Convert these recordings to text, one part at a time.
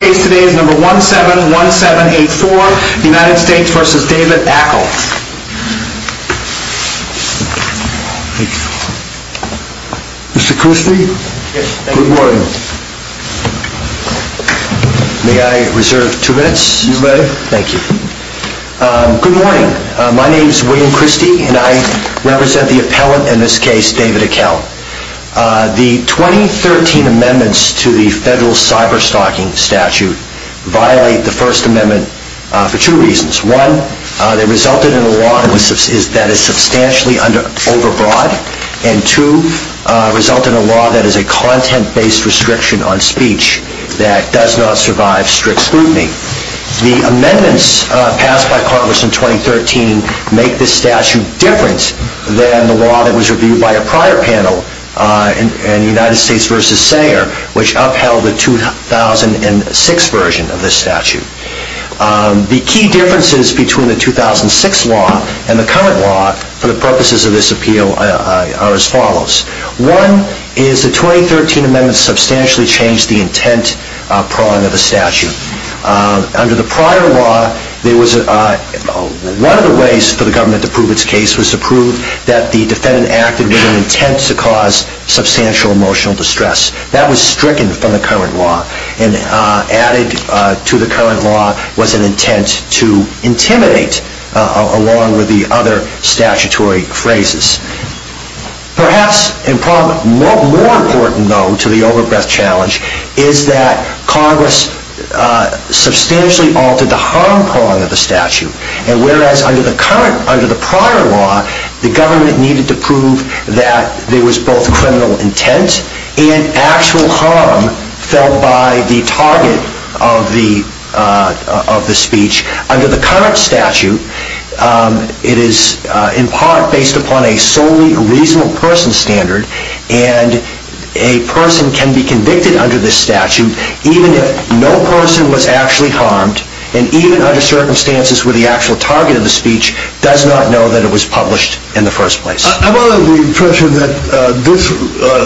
Good morning, my name is William Christie and I represent the appellant in this case and I'm here to talk about the first amendment to the statute. I'm going to start by saying that the amendments to this statute violate the first amendment for two reasons. One, they resulted in a law that is substantially over broad and two, result in a law that is a content based restriction on speech that does not survive strict scrutiny. The amendments passed by Congress in 2013 make this statute different than the law that was reviewed by a prior panel in United States v. Sanger which upheld the 2006 version of this statute. The key differences between the 2006 law and the current law for the purposes of this appeal are as follows. One is the 2013 amendment substantially changed the intent prong of the statute. Under the prior law, one of the ways for the government to prove its case was to prove that the defendant acted with an intent to cause substantial emotional distress. That was stricken from the current law and added to the current law was an intent to intimidate along with the other statutory phrases. Perhaps more important though to the over breadth challenge is that Congress substantially altered the harm prong of the statute. And whereas under the prior law, the government needed to prove that there was both criminal intent and actual harm felt by the target of the speech. Under the current statute, it is in part based upon a solely reasonable person standard and a person can be convicted under this statute even if no person was actually harmed and even under circumstances where the actual target of the speech does not know that it was published in the first place. I'm under the impression that this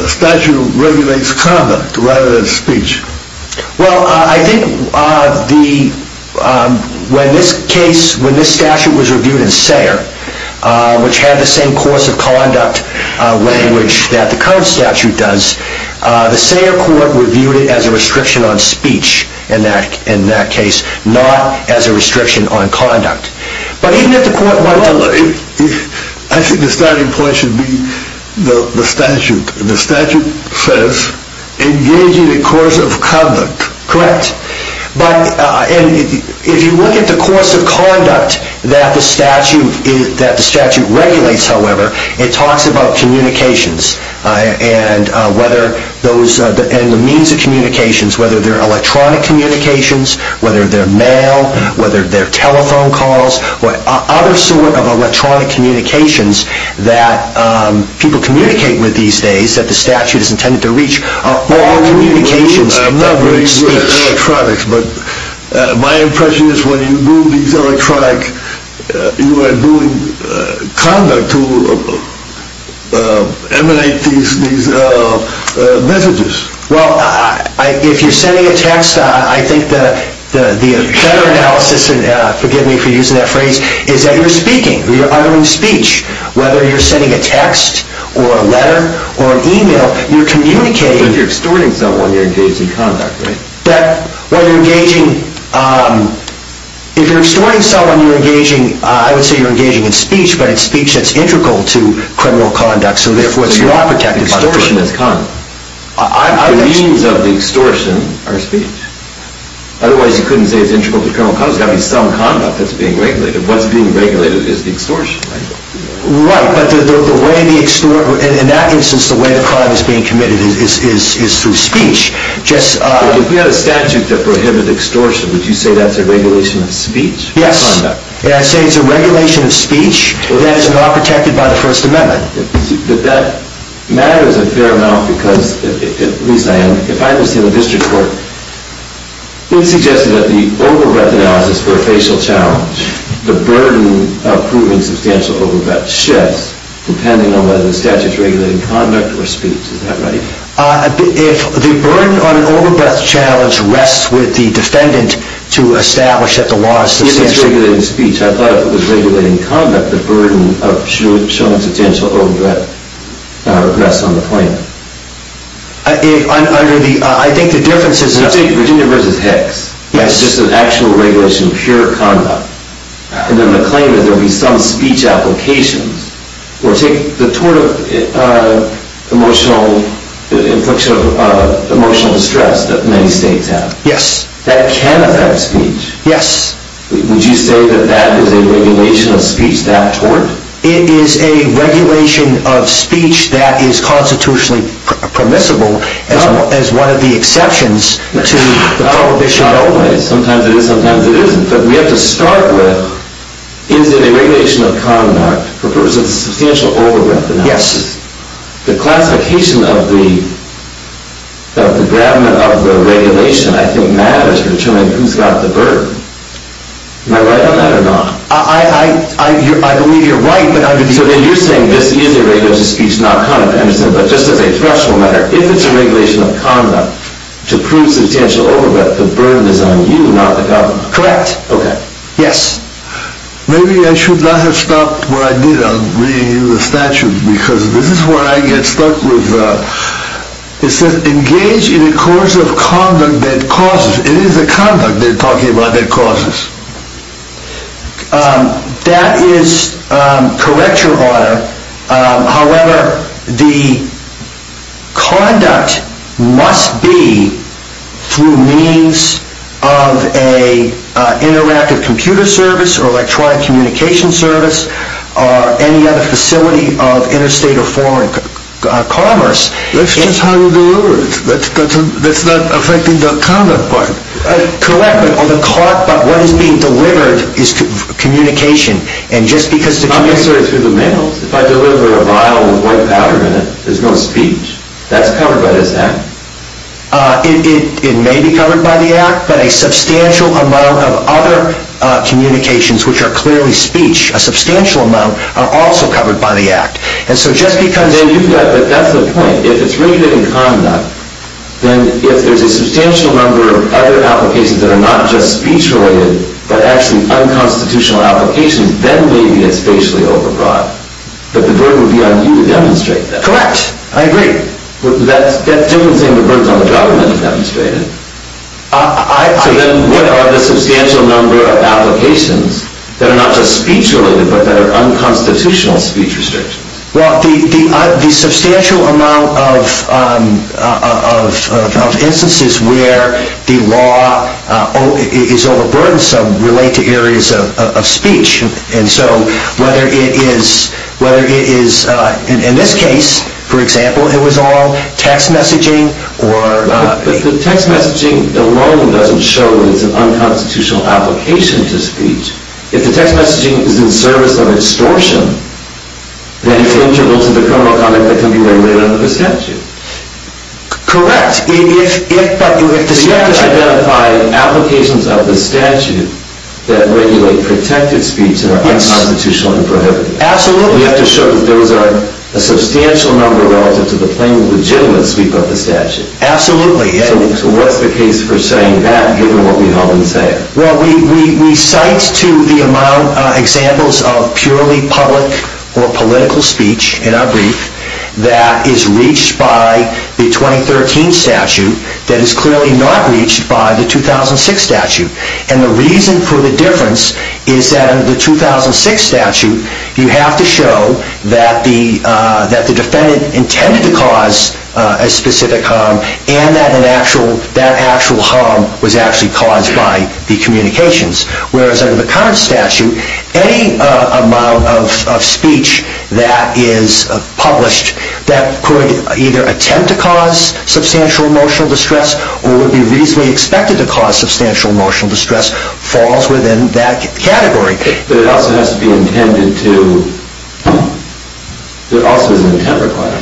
statute regulates conduct rather than speech. Well, I think when this statute was reviewed in Sayre, which had the same course of conduct language that the current statute does, the Sayre court reviewed it as a restriction on speech in that case, not as a restriction on conduct. I think the starting point should be the statute. The statute says engage in a course of conduct. Correct. If you look at the course of conduct that the statute regulates, however, it talks about communications and the means of communications, whether they're electronic communications, whether they're mail, whether they're telephone calls, what other sort of electronic communications that people communicate with these days that the statute is intended to reach are all communications that reach speech. I'm not very good at electronics, but my impression is when you do these electronic, you are doing conduct to emanate these messages. Well, if you're sending a text, I think the better analysis, and forgive me for using that phrase, is that you're speaking, you're uttering speech. Whether you're sending a text or a letter or an email, you're communicating. So if you're extorting someone, you're engaging in conduct, right? If you're extorting someone, you're engaging, I would say you're engaging in speech, but it's speech that's integral to criminal conduct, so therefore it's not protected extortion. Extortion is conduct. The means of the extortion are speech. Otherwise, you couldn't say it's integral to criminal conduct. There's got to be some conduct that's being regulated. What's being regulated is the extortion, right? Right, but in that instance, the way the crime is being committed is through speech. If we had a statute that prohibited extortion, would you say that's a regulation of speech? Yes, I'd say it's a regulation of speech that is not protected by the First Amendment. But that matters a fair amount because, at least I am, if I was in the district court, it's suggested that the overbreath analysis for a facial challenge, the burden of proving substantial overbreath shifts depending on whether the statute's regulating conduct or speech. Is that right? If the burden on an overbreath challenge rests with the defendant to establish that the law is substantially If it's regulating speech, I thought if it was regulating conduct, the burden of showing substantial overbreath rests on the plaintiff. I think the difference is Let's take Virginia v. Hicks. It's just an actual regulation of pure conduct. And then the claim is there will be some speech applications. Or take the tort of emotional distress that many states have. Yes. That can affect speech. Yes. Would you say that that is a regulation of speech, that tort? It is a regulation of speech that is constitutionally permissible as one of the exceptions to the prohibition of overbreath. Sometimes it is, sometimes it isn't. But we have to start with, is it a regulation of conduct for purposes of substantial overbreath analysis? Yes. The classification of the grabment of the regulation, I think, matters for determining who's got the burden. Am I right on that or not? I believe you're right. So then you're saying this is a regulation of speech, not conduct. But just as a threshold matter, if it's a regulation of conduct to prove substantial overbreath, the burden is on you, not the government. Correct. Okay. Yes. Maybe I should not have stopped where I did. I'm reading you the statute because this is where I get stuck with, it says engage in a course of conduct that causes. It is a conduct they're talking about that causes. That is, correct your honor. However, the conduct must be through means of an interactive computer service or electronic communication service or any other facility of interstate or foreign commerce. That's just how you deliver it. That's not affecting the conduct part. Correct, but what is being delivered is communication. Not necessarily through the mail. If I deliver a vial with white powder in it, there's no speech. That's covered by this act. It may be covered by the act, but a substantial amount of other communications, which are clearly speech, a substantial amount are also covered by the act. They do that, but that's the point. If it's written in conduct, then if there's a substantial number of other applications that are not just speech related, but actually unconstitutional applications, then maybe it's facially overbroad. But the burden would be on you to demonstrate that. Correct. I agree. That doesn't seem to burden on the government to demonstrate it. So then what are the substantial number of applications that are not just speech related, but that are unconstitutional speech restrictions? Well, the substantial amount of instances where the law is overburdensome relate to areas of speech. And so whether it is, in this case, for example, it was all text messaging or... If the text messaging alone doesn't show that it's an unconstitutional application to speech, if the text messaging is in service of extortion, then it's integral to the criminal conduct that can be regulated under the statute. Correct. But you have to show... You have to identify applications of the statute that regulate protected speech that are unconstitutional and prohibited. Absolutely. You have to show that those are a substantial number relative to the plain and legitimate sweep of the statute. Absolutely. So what's the case for saying that, given what we've all been saying? Well, we cite to the amount of examples of purely public or political speech in our brief that is reached by the 2013 statute that is clearly not reached by the 2006 statute. And the reason for the difference is that in the 2006 statute, you have to show that the defendant intended to cause a specific harm and that that actual harm was actually caused by the communications. Whereas under the current statute, any amount of speech that is published that could either attempt to cause substantial emotional distress or would be reasonably expected to cause substantial emotional distress falls within that category. But it also has to be intended to... There also is an intent required.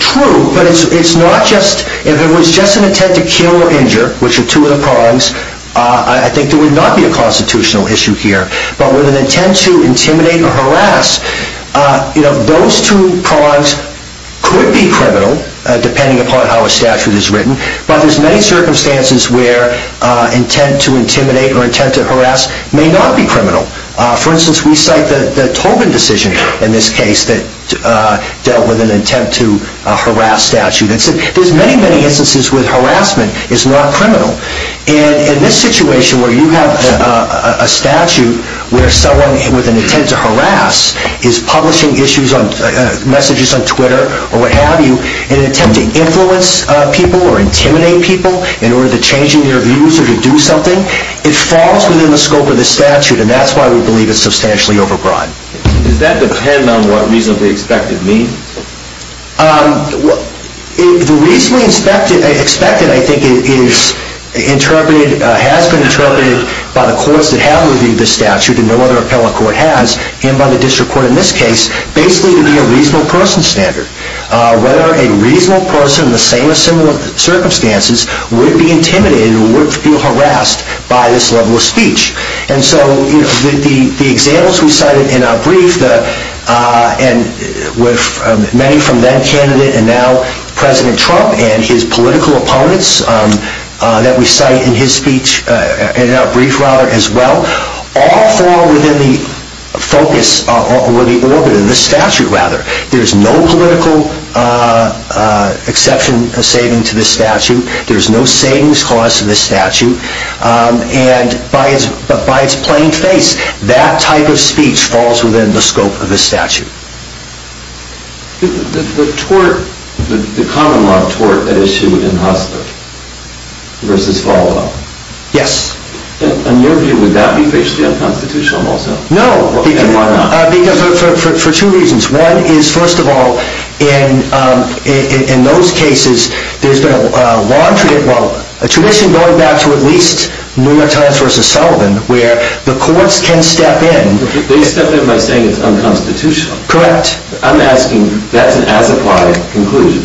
True, but it's not just... If it was just an intent to kill or injure, which are two of the prongs, I think there would not be a constitutional issue here. But with an intent to intimidate or harass, those two prongs could be criminal, depending upon how a statute is written. But there's many circumstances where intent to intimidate or intent to harass may not be criminal. For instance, we cite the Tobin decision in this case that dealt with an intent to harass statute. There's many, many instances where harassment is not criminal. And in this situation where you have a statute where someone with an intent to harass is publishing messages on Twitter or what have you in an attempt to influence people or intimidate people in order to change their views or to do something, it falls within the scope of this statute, and that's why we believe it's substantially overbroad. Does that depend on what reasonably expected means? The reasonably expected, I think, has been interpreted by the courts that have reviewed this statute, and no other appellate court has, and by the district court in this case, basically to be a reasonable person standard. Whether a reasonable person in the same or similar circumstances would be intimidated or would feel harassed by this level of speech. And so the examples we cited in our brief, with many from then-candidate and now President Trump and his political opponents that we cite in our brief as well, all fall within the focus or the orbit of this statute. There's no political exception or saving to this statute. There's no savings cost to this statute. And by its plain face, that type of speech falls within the scope of this statute. The tort, the common law tort at issue in Hustler versus follow-up. Yes. In your view, would that be facially unconstitutional also? No. And why not? Because for two reasons. One is, first of all, in those cases, there's been a long tradition, well, a tradition going back to at least New York Times versus Sullivan, where the courts can step in. They step in by saying it's unconstitutional. Correct. I'm asking, that's an as-applied conclusion.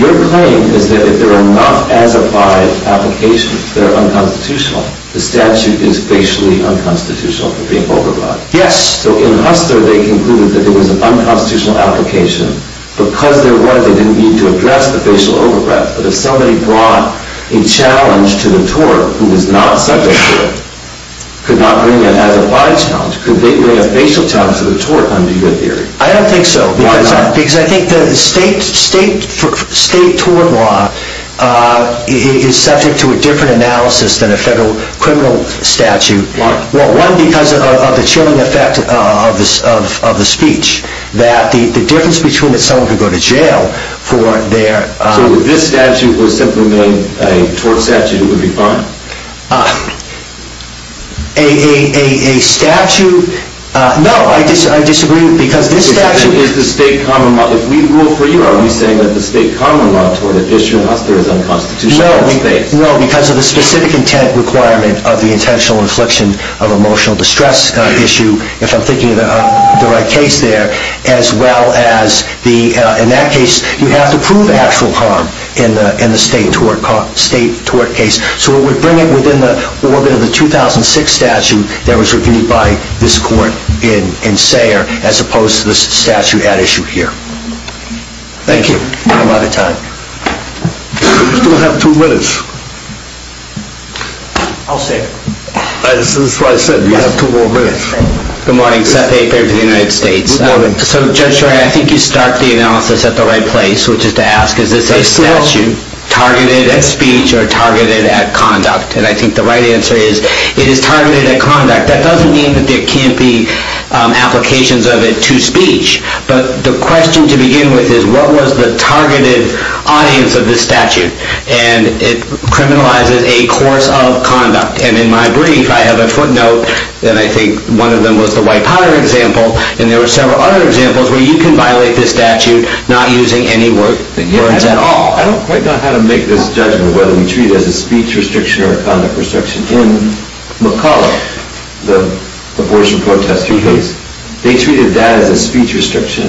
Your claim is that if there are not as-applied applications that are unconstitutional, the statute is facially unconstitutional for being overblown. Yes. So in Hustler, they concluded that it was an unconstitutional application. Because there was, they didn't need to address the facial overbreath. But if somebody brought a challenge to the tort who was not subject to it, could not bring an as-applied challenge, could they bring a facial challenge to the tort under your theory? I don't think so. Why not? Because I think the state tort law is subject to a different analysis than a federal criminal statute. Why? Well, one, because of the chilling effect of the speech, that the difference between that someone could go to jail for their So if this statute was simply made a tort statute, it would be fine? A statute, no, I disagree, because this statute Is the state common law, if we rule for you, are we saying that the state common law toward an issue in Hustler is unconstitutional in the state? No, because of the specific intent requirement of the intentional infliction of emotional distress issue, if I'm thinking of the right case there. As well as, in that case, you have to prove actual harm in the state tort case. So it would bring it within the orbit of the 2006 statute that was reviewed by this court in Sayre, as opposed to this statute at issue here. Thank you. We don't have a lot of time. We still have two minutes. I'll say it. This is what I said, we have two more minutes. Good morning, Seth Aper for the United States. Good morning. So Judge Schor, I think you start the analysis at the right place, which is to ask, is this a statute targeted at speech or targeted at conduct? And I think the right answer is, it is targeted at conduct. That doesn't mean that there can't be applications of it to speech. But the question to begin with is, what was the targeted audience of this statute? And it criminalizes a course of conduct. And in my brief, I have a footnote, and I think one of them was the White-Potter example, and there were several other examples where you can violate this statute not using any words at all. I don't quite know how to make this judgment whether we treat it as a speech restriction or a conduct restriction. In McCulloch, the abortion protest case, they treated that as a speech restriction.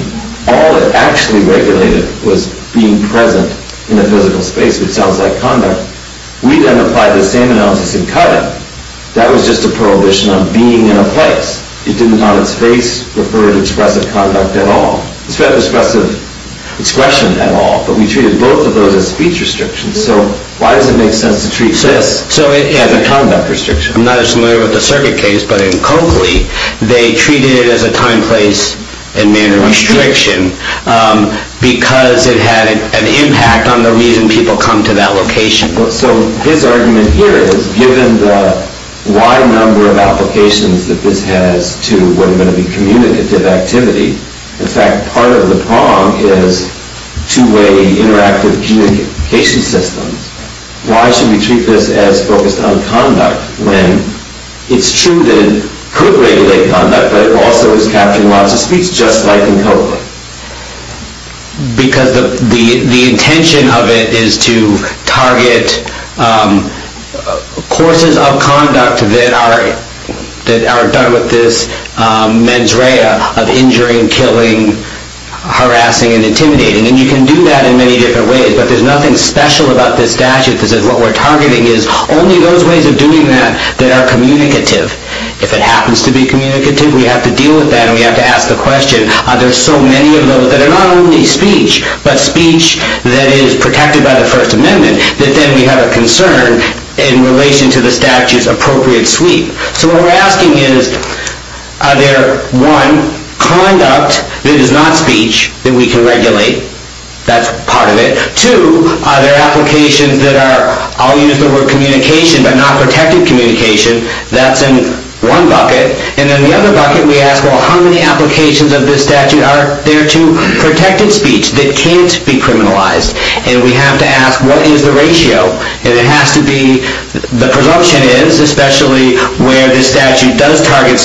All it actually regulated was being present in a physical space, which sounds like conduct. We then applied the same analysis in Cutting. That was just a prohibition on being in a place. It did not, in space, refer to expressive conduct at all. It's not an expressive expression at all, but we treated both of those as speech restrictions. So why does it make sense to treat this as a conduct restriction? I'm not as familiar with the circuit case, but in Coakley, they treated it as a time, place, and manner restriction because it had an impact on the reason people come to that location. So his argument here is, given the wide number of applications that this has to what are going to be communicative activity, in fact, part of the prong is two-way interactive communication systems. Why should we treat this as focused on conduct when it's true that it could regulate conduct, but it also is capturing lots of speech, just like in Coakley? Because the intention of it is to target courses of conduct that are done with this mens rea of injuring, killing, harassing, and intimidating. And you can do that in many different ways, but there's nothing special about this statute that says what we're targeting is only those ways of doing that that are communicative. If it happens to be communicative, we have to deal with that, and we have to ask the question, are there so many of those that are not only speech, but speech that is protected by the First Amendment, that then we have a concern in relation to the statute's appropriate sweep? So what we're asking is, are there, one, conduct that is not speech that we can regulate? That's part of it. Two, are there applications that are, I'll use the word communication, but not protected communication? That's in one bucket. And in the other bucket, we ask, well, how many applications of this statute are there to protected speech that can't be criminalized? And we have to ask, what is the ratio? And it has to be, the presumption is, especially where the statute does target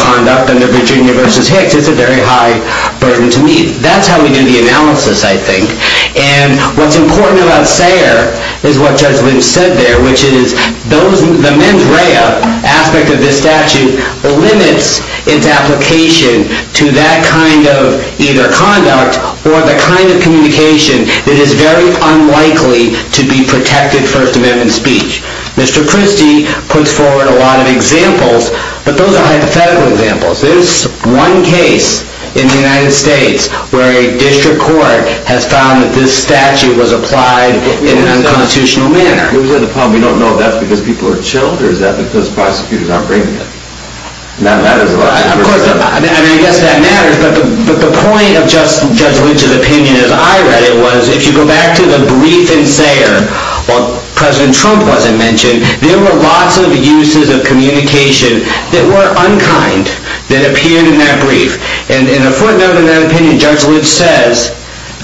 conduct under Virginia v. Hicks, it's a very high burden to meet. That's how we do the analysis, I think. And what's important about Sayre is what Judge Lynch said there, which is the mens rea aspect of this statute limits its application to that kind of either conduct or the kind of communication that is very unlikely to be protected First Amendment speech. Mr. Christie puts forward a lot of examples, but those are hypothetical examples. There's one case in the United States where a district court has found that this statute was applied in an unconstitutional manner. We don't know if that's because people are chilled, or is that because prosecutors aren't bringing it? I guess that matters, but the point of Judge Lynch's opinion, as I read it, was if you go back to the brief in Sayre, while President Trump wasn't mentioned, there were lots of uses of communication that were unkind that appeared in that brief. And in a footnote in that opinion, Judge Lynch says,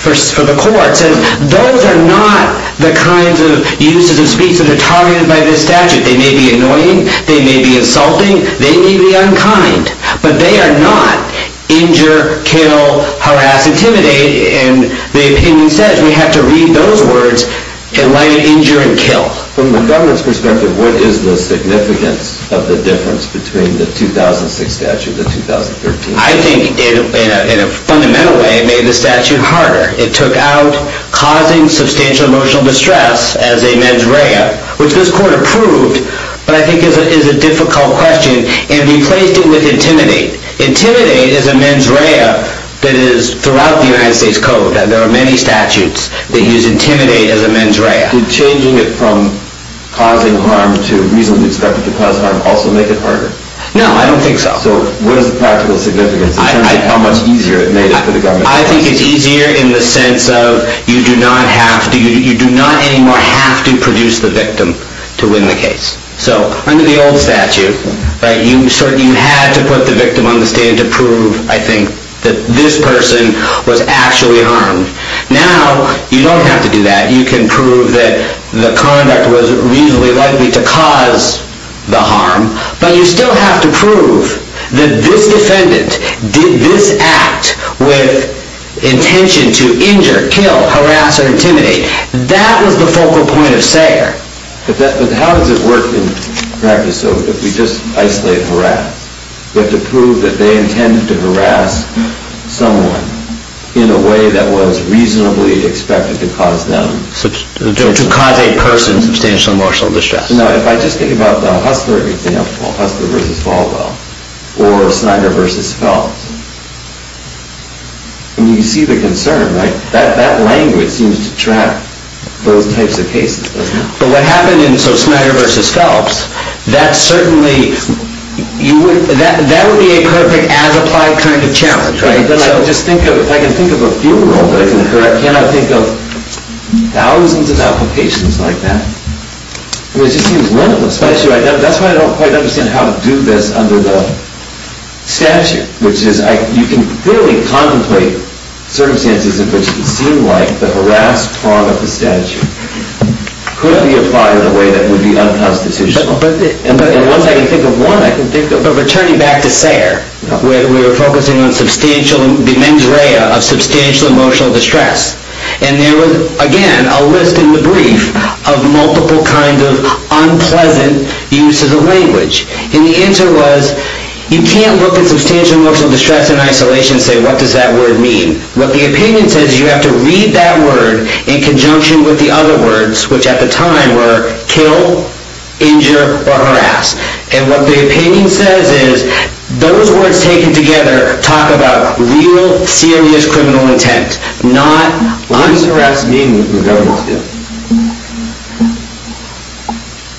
for the court, says those are not the kinds of uses of speech that are targeted by this statute. They may be annoying. They may be insulting. They may be unkind. But they are not injure, kill, harass, intimidate. And the opinion says we have to read those words in light of injure and kill. From the government's perspective, what is the significance of the difference between the 2006 statute and the 2013? I think in a fundamental way, it made the statute harder. It took out causing substantial emotional distress as a mens rea, which this court approved, but I think is a difficult question, and replaced it with intimidate. Intimidate is a mens rea that is throughout the United States Code. There are many statutes that use intimidate as a mens rea. Did changing it from causing harm to reasonably expected to cause harm also make it harder? No, I don't think so. So what is the practical significance in terms of how much easier it made it for the government? I think it's easier in the sense of you do not anymore have to produce the victim to win the case. So under the old statute, you had to put the victim on the stand to prove, I think, that this person was actually harmed. Now, you don't have to do that. You can prove that the conduct was reasonably likely to cause the harm, but you still have to prove that this defendant did this act with intention to injure, kill, harass, or intimidate. That was the focal point of Sager. But how does it work in practice, though, if we just isolate and harass? You have to prove that they intended to harass someone in a way that was reasonably expected to cause them... To cause a person substantial emotional distress. Now, if I just think about the Hussler example, Hussler v. Falwell, or Snyder v. Phelps, and you see the concern, right? That language seems to track those types of cases. But what happened in Snyder v. Phelps, that would be a perfect as-applied kind of challenge, right? If I can think of a field rule that I can correct, can I think of thousands of applications like that? It just seems limitless. That's why I don't quite understand how to do this under the statute. You can clearly contemplate circumstances in which it seemed like the harassed part of the statute could be applied in a way that would be unconstitutional. And once I can think of one, I can think of returning back to Sager, where we were focusing on the mens rea of substantial emotional distress. And there was, again, a list in the brief of multiple kinds of unpleasant uses of language. And the answer was, you can't look at substantial emotional distress in isolation and say, what does that word mean? What the opinion says is you have to read that word in conjunction with the other words, which at the time were kill, injure, or harass. And what the opinion says is, those words taken together talk about real, serious criminal intent. What does harass mean in the governance view?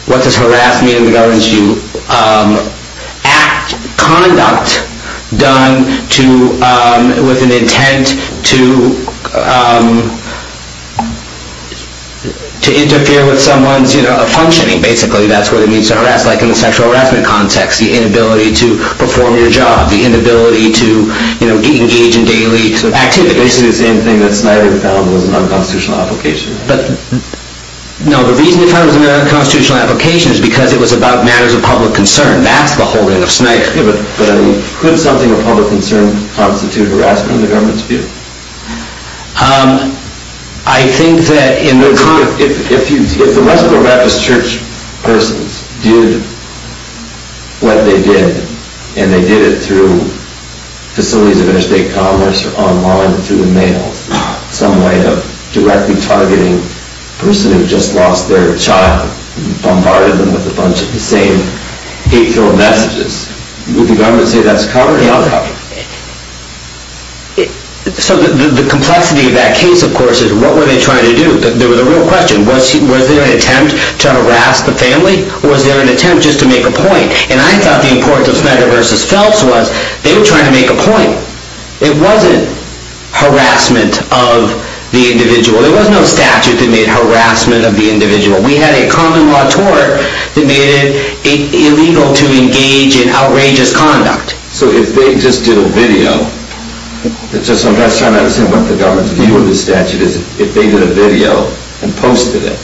What does harass mean in the governance view? Act, conduct done with an intent to interfere with someone's functioning, basically. That's what it means to harass, like in the sexual harassment context, the inability to perform your job, the inability to engage in daily activities. Basically the same thing that Snyder found was an unconstitutional application. No, the reason he found it was an unconstitutional application is because it was about matters of public concern. That's the whole end of Snyder. Could something of public concern constitute harassment in the governance view? If the Westboro Baptist Church persons did what they did, and they did it through facilities of interstate commerce or online through the mail, some way of directly targeting a person who just lost their child and bombarded them with a bunch of the same hateful messages, would the government say that's cowardly? The complexity of that case, of course, is what were they trying to do? The real question was, was there an attempt to harass the family, or was there an attempt just to make a point? And I thought the importance of Snyder v. Phelps was, they were trying to make a point. It wasn't harassment of the individual. There was no statute that made harassment of the individual. We had a common law tort that made it illegal to engage in outrageous conduct. So if they just did a video, I'm just trying to understand what the government's view of the statute is. If they did a video and posted it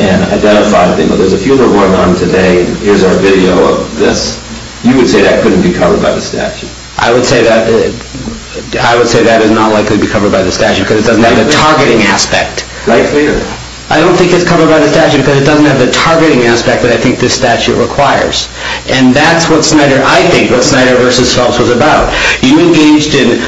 and identified, there's a few that are going on today, here's our video of this, you would say that couldn't be covered by the statute? I would say that is not likely to be covered by the statute because it doesn't have the targeting aspect. I don't think it's covered by the statute because it doesn't have the targeting aspect that I think this statute requires. And that's what Snyder, I think, what Snyder v. Phelps was about. You engaged in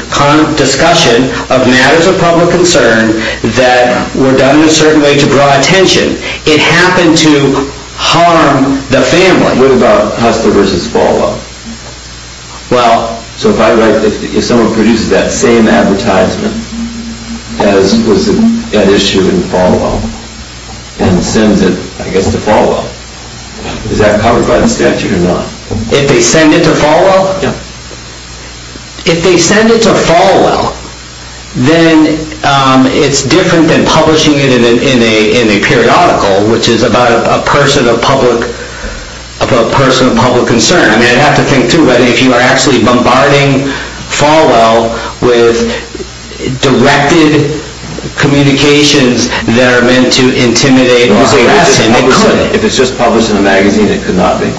discussion of matters of public concern that were done in a certain way to draw attention. It happened to harm the family. What about Hustler v. Falwell? Well, so if someone produces that same advertisement as was at issue in Falwell and sends it, I guess, to Falwell, is that covered by the statute or not? If they send it to Falwell? Yeah. If they send it to Falwell, then it's different than publishing it in a periodical, which is about a person of public concern. I mean, I'd have to think, too, that if you are actually bombarding Falwell with directed communications that are meant to intimidate or harass him, it could. If it's just published in a magazine, it could not be?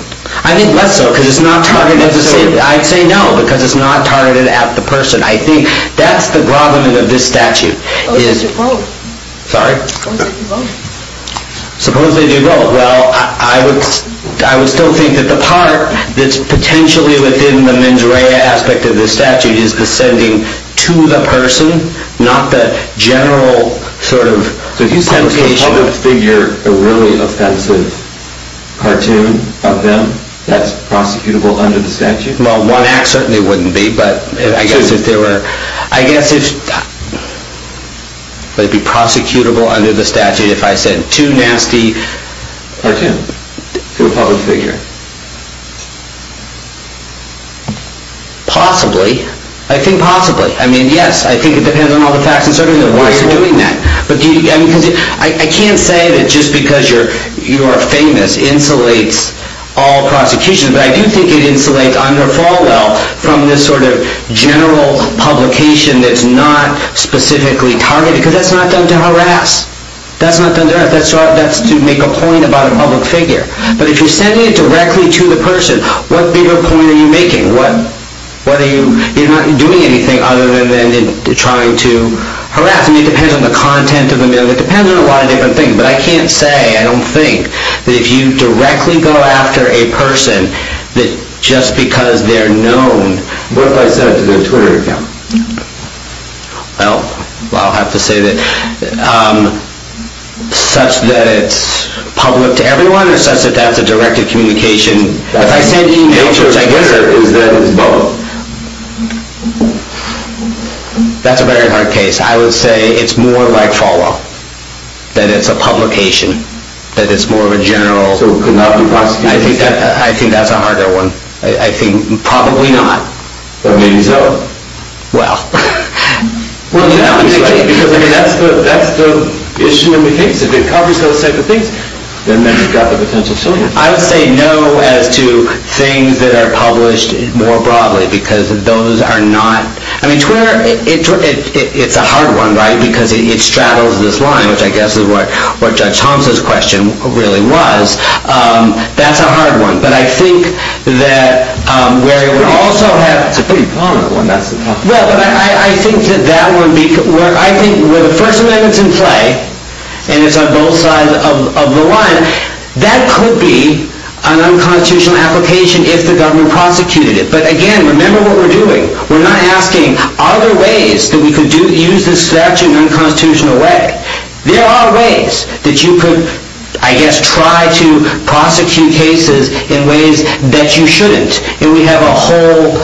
I think less so because it's not targeted at the same. I'd say no because it's not targeted at the person. I think that's the grovelment of this statute. Suppose they do both. Sorry? Suppose they do both. Suppose they do both. Well, I would still think that the part that's potentially within the mens rea aspect of this statute is ascending to the person, not the general sort of publication. So if you sent a part of the figure, a really offensive cartoon of them, that's prosecutable under the statute? Well, one act certainly wouldn't be. But I guess if there were, I guess if they'd be prosecutable under the statute if I sent two nasty cartoons to a public figure. Possibly. I think possibly. I mean, yes, I think it depends on all the facts and circumstances of why you're doing that. I can't say that just because you're famous insulates all prosecution. But I do think it insulates under Falwell from this sort of general publication that's not specifically targeted. Because that's not done to harass. That's not done to harass. That's to make a point about a public figure. But if you're sending it directly to the person, what bigger point are you making? You're not doing anything other than trying to harass. It depends on the content of the mail. It depends on a lot of different things. But I can't say, I don't think, that if you directly go after a person that just because they're known. What if I sent it to their Twitter account? Well, I'll have to say that such that it's public to everyone or such that that's a directed communication. If I send you pictures, I guess that is both. That's a very hard case. I would say it's more like Falwell. That it's a publication. That it's more of a general. So it could not be prosecuted. I think that's a harder one. I think probably not. But maybe so. Well. That's the issue in the case. If it covers those type of things, then maybe you've got the potential. I would say no as to things that are published more broadly because those are not. I mean, Twitter, it's a hard one, right? Because it straddles this line, which I guess is what Judge Thompson's question really was. That's a hard one. But I think that where it would also have. It's a pretty prominent one. Well, but I think that that would be. I think where the First Amendment's in play and it's on both sides of the line, that could be an unconstitutional application if the government prosecuted it. But again, remember what we're doing. We're not asking, are there ways that we could use this statute in an unconstitutional way? There are ways that you could, I guess, try to prosecute cases in ways that you shouldn't. And we have a whole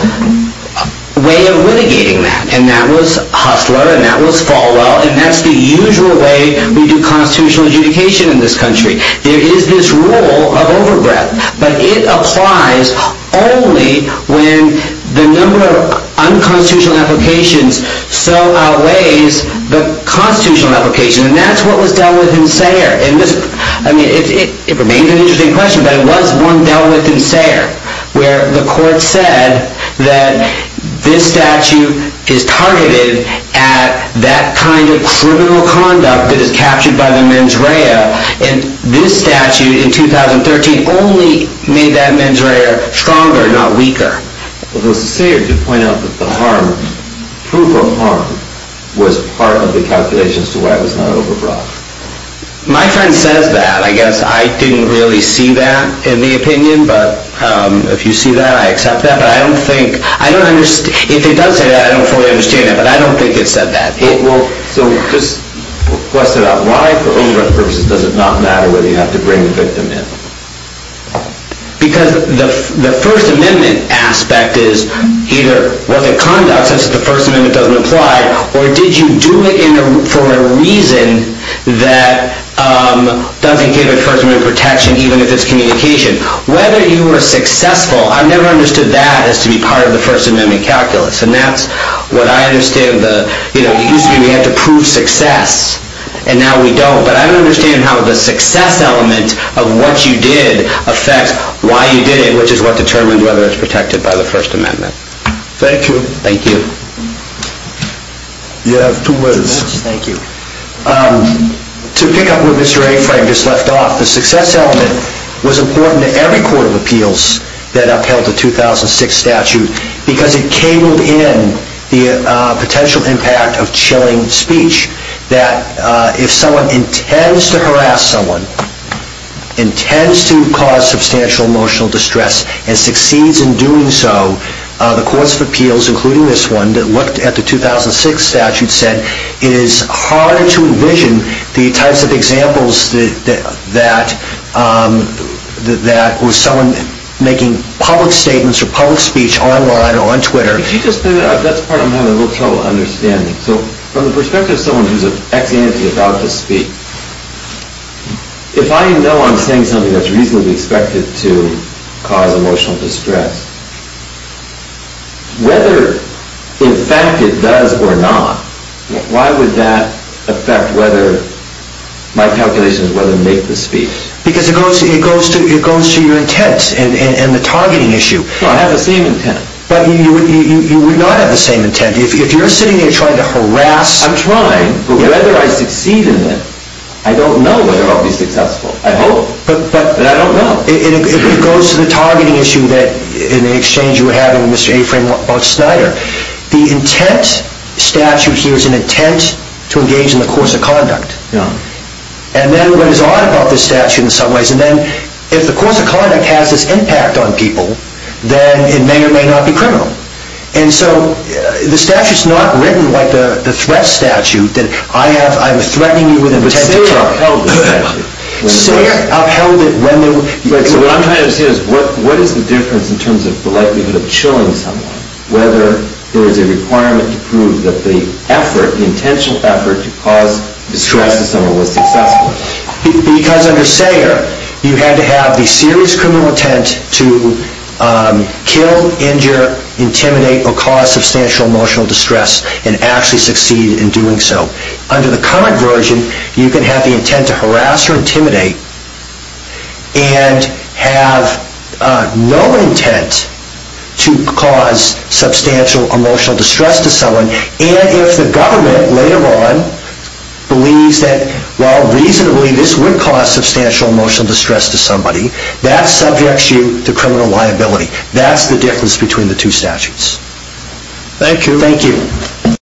way of litigating that. And that was Hustler. And that was Falwell. And that's the usual way we do constitutional adjudication in this country. There is this rule of overbreadth. But it applies only when the number of unconstitutional applications so outweighs the constitutional application. And that's what was dealt with in Sayre. I mean, it remains an interesting question. But it was one dealt with in Sayre, where the court said that this statute is targeted at that kind of criminal conduct that is captured by the mens rea. And this statute in 2013 only made that mens rea stronger, not weaker. But was it Sayre to point out that the harm, proof of harm, was part of the calculation as to why it was not overbreadth? My friend says that. I guess I didn't really see that in the opinion. But if you see that, I accept that. But I don't think, I don't understand. If it does say that, I don't fully understand it. But I don't think it said that. So just question it out. Why, for overbreadth purposes, does it not matter whether you have to bring the victim in? Because the First Amendment aspect is either, was it conduct, since the First Amendment doesn't apply, or did you do it for a reason that doesn't give it First Amendment protection, even if it's communication? Whether you were successful, I've never understood that as to be part of the First Amendment calculus. And that's what I understand. It used to be we had to prove success, and now we don't. But I don't understand how the success element of what you did affects why you did it, which is what determines whether it's protected by the First Amendment. Thank you. Thank you. You have two minutes. Thank you. To pick up where Mr. A. Frank just left off, the success element was important to every court of appeals that upheld the 2006 statute because it cabled in the potential impact of chilling speech, that if someone intends to harass someone, intends to cause substantial emotional distress, and succeeds in doing so, the courts of appeals, including this one that looked at the 2006 statute, said it is hard to envision the types of examples that with someone making public statements or public speech online or on Twitter. Could you just say that? That's part of my little trouble understanding. So from the perspective of someone who's an ex-ante about to speak, if I know I'm saying something that's reasonably expected to cause emotional distress, whether in fact it does or not, why would that affect whether my calculations make the speech? Because it goes to your intent and the targeting issue. I have the same intent. But you would not have the same intent. If you're sitting there trying to harass... I'm trying, but whether I succeed in it, I don't know whether I'll be successful. I hope, but I don't know. It goes to the targeting issue that, in the exchange you were having with Mr. A. Freeman about Snyder. The intent statute here is an intent to engage in the course of conduct. And then what is odd about this statute in some ways, and then if the course of conduct has this impact on people, then it may or may not be criminal. And so the statute's not written like the threat statute, that I'm threatening you with an attempt to... Sayer upheld it when... What I'm trying to say is, what is the difference in terms of the likelihood of chilling someone, whether there is a requirement to prove that the effort, the intentional effort to cause distress to someone was successful? Because under Sayer, you had to have the serious criminal intent to kill, injure, intimidate, or cause substantial emotional distress and actually succeed in doing so. Under the current version, you can have the intent to harass or intimidate and have no intent to cause substantial emotional distress to someone. And if the government later on believes that, well, reasonably this would cause substantial emotional distress to somebody, that subjects you to criminal liability. That's the difference between the two statutes. Thank you. Thank you.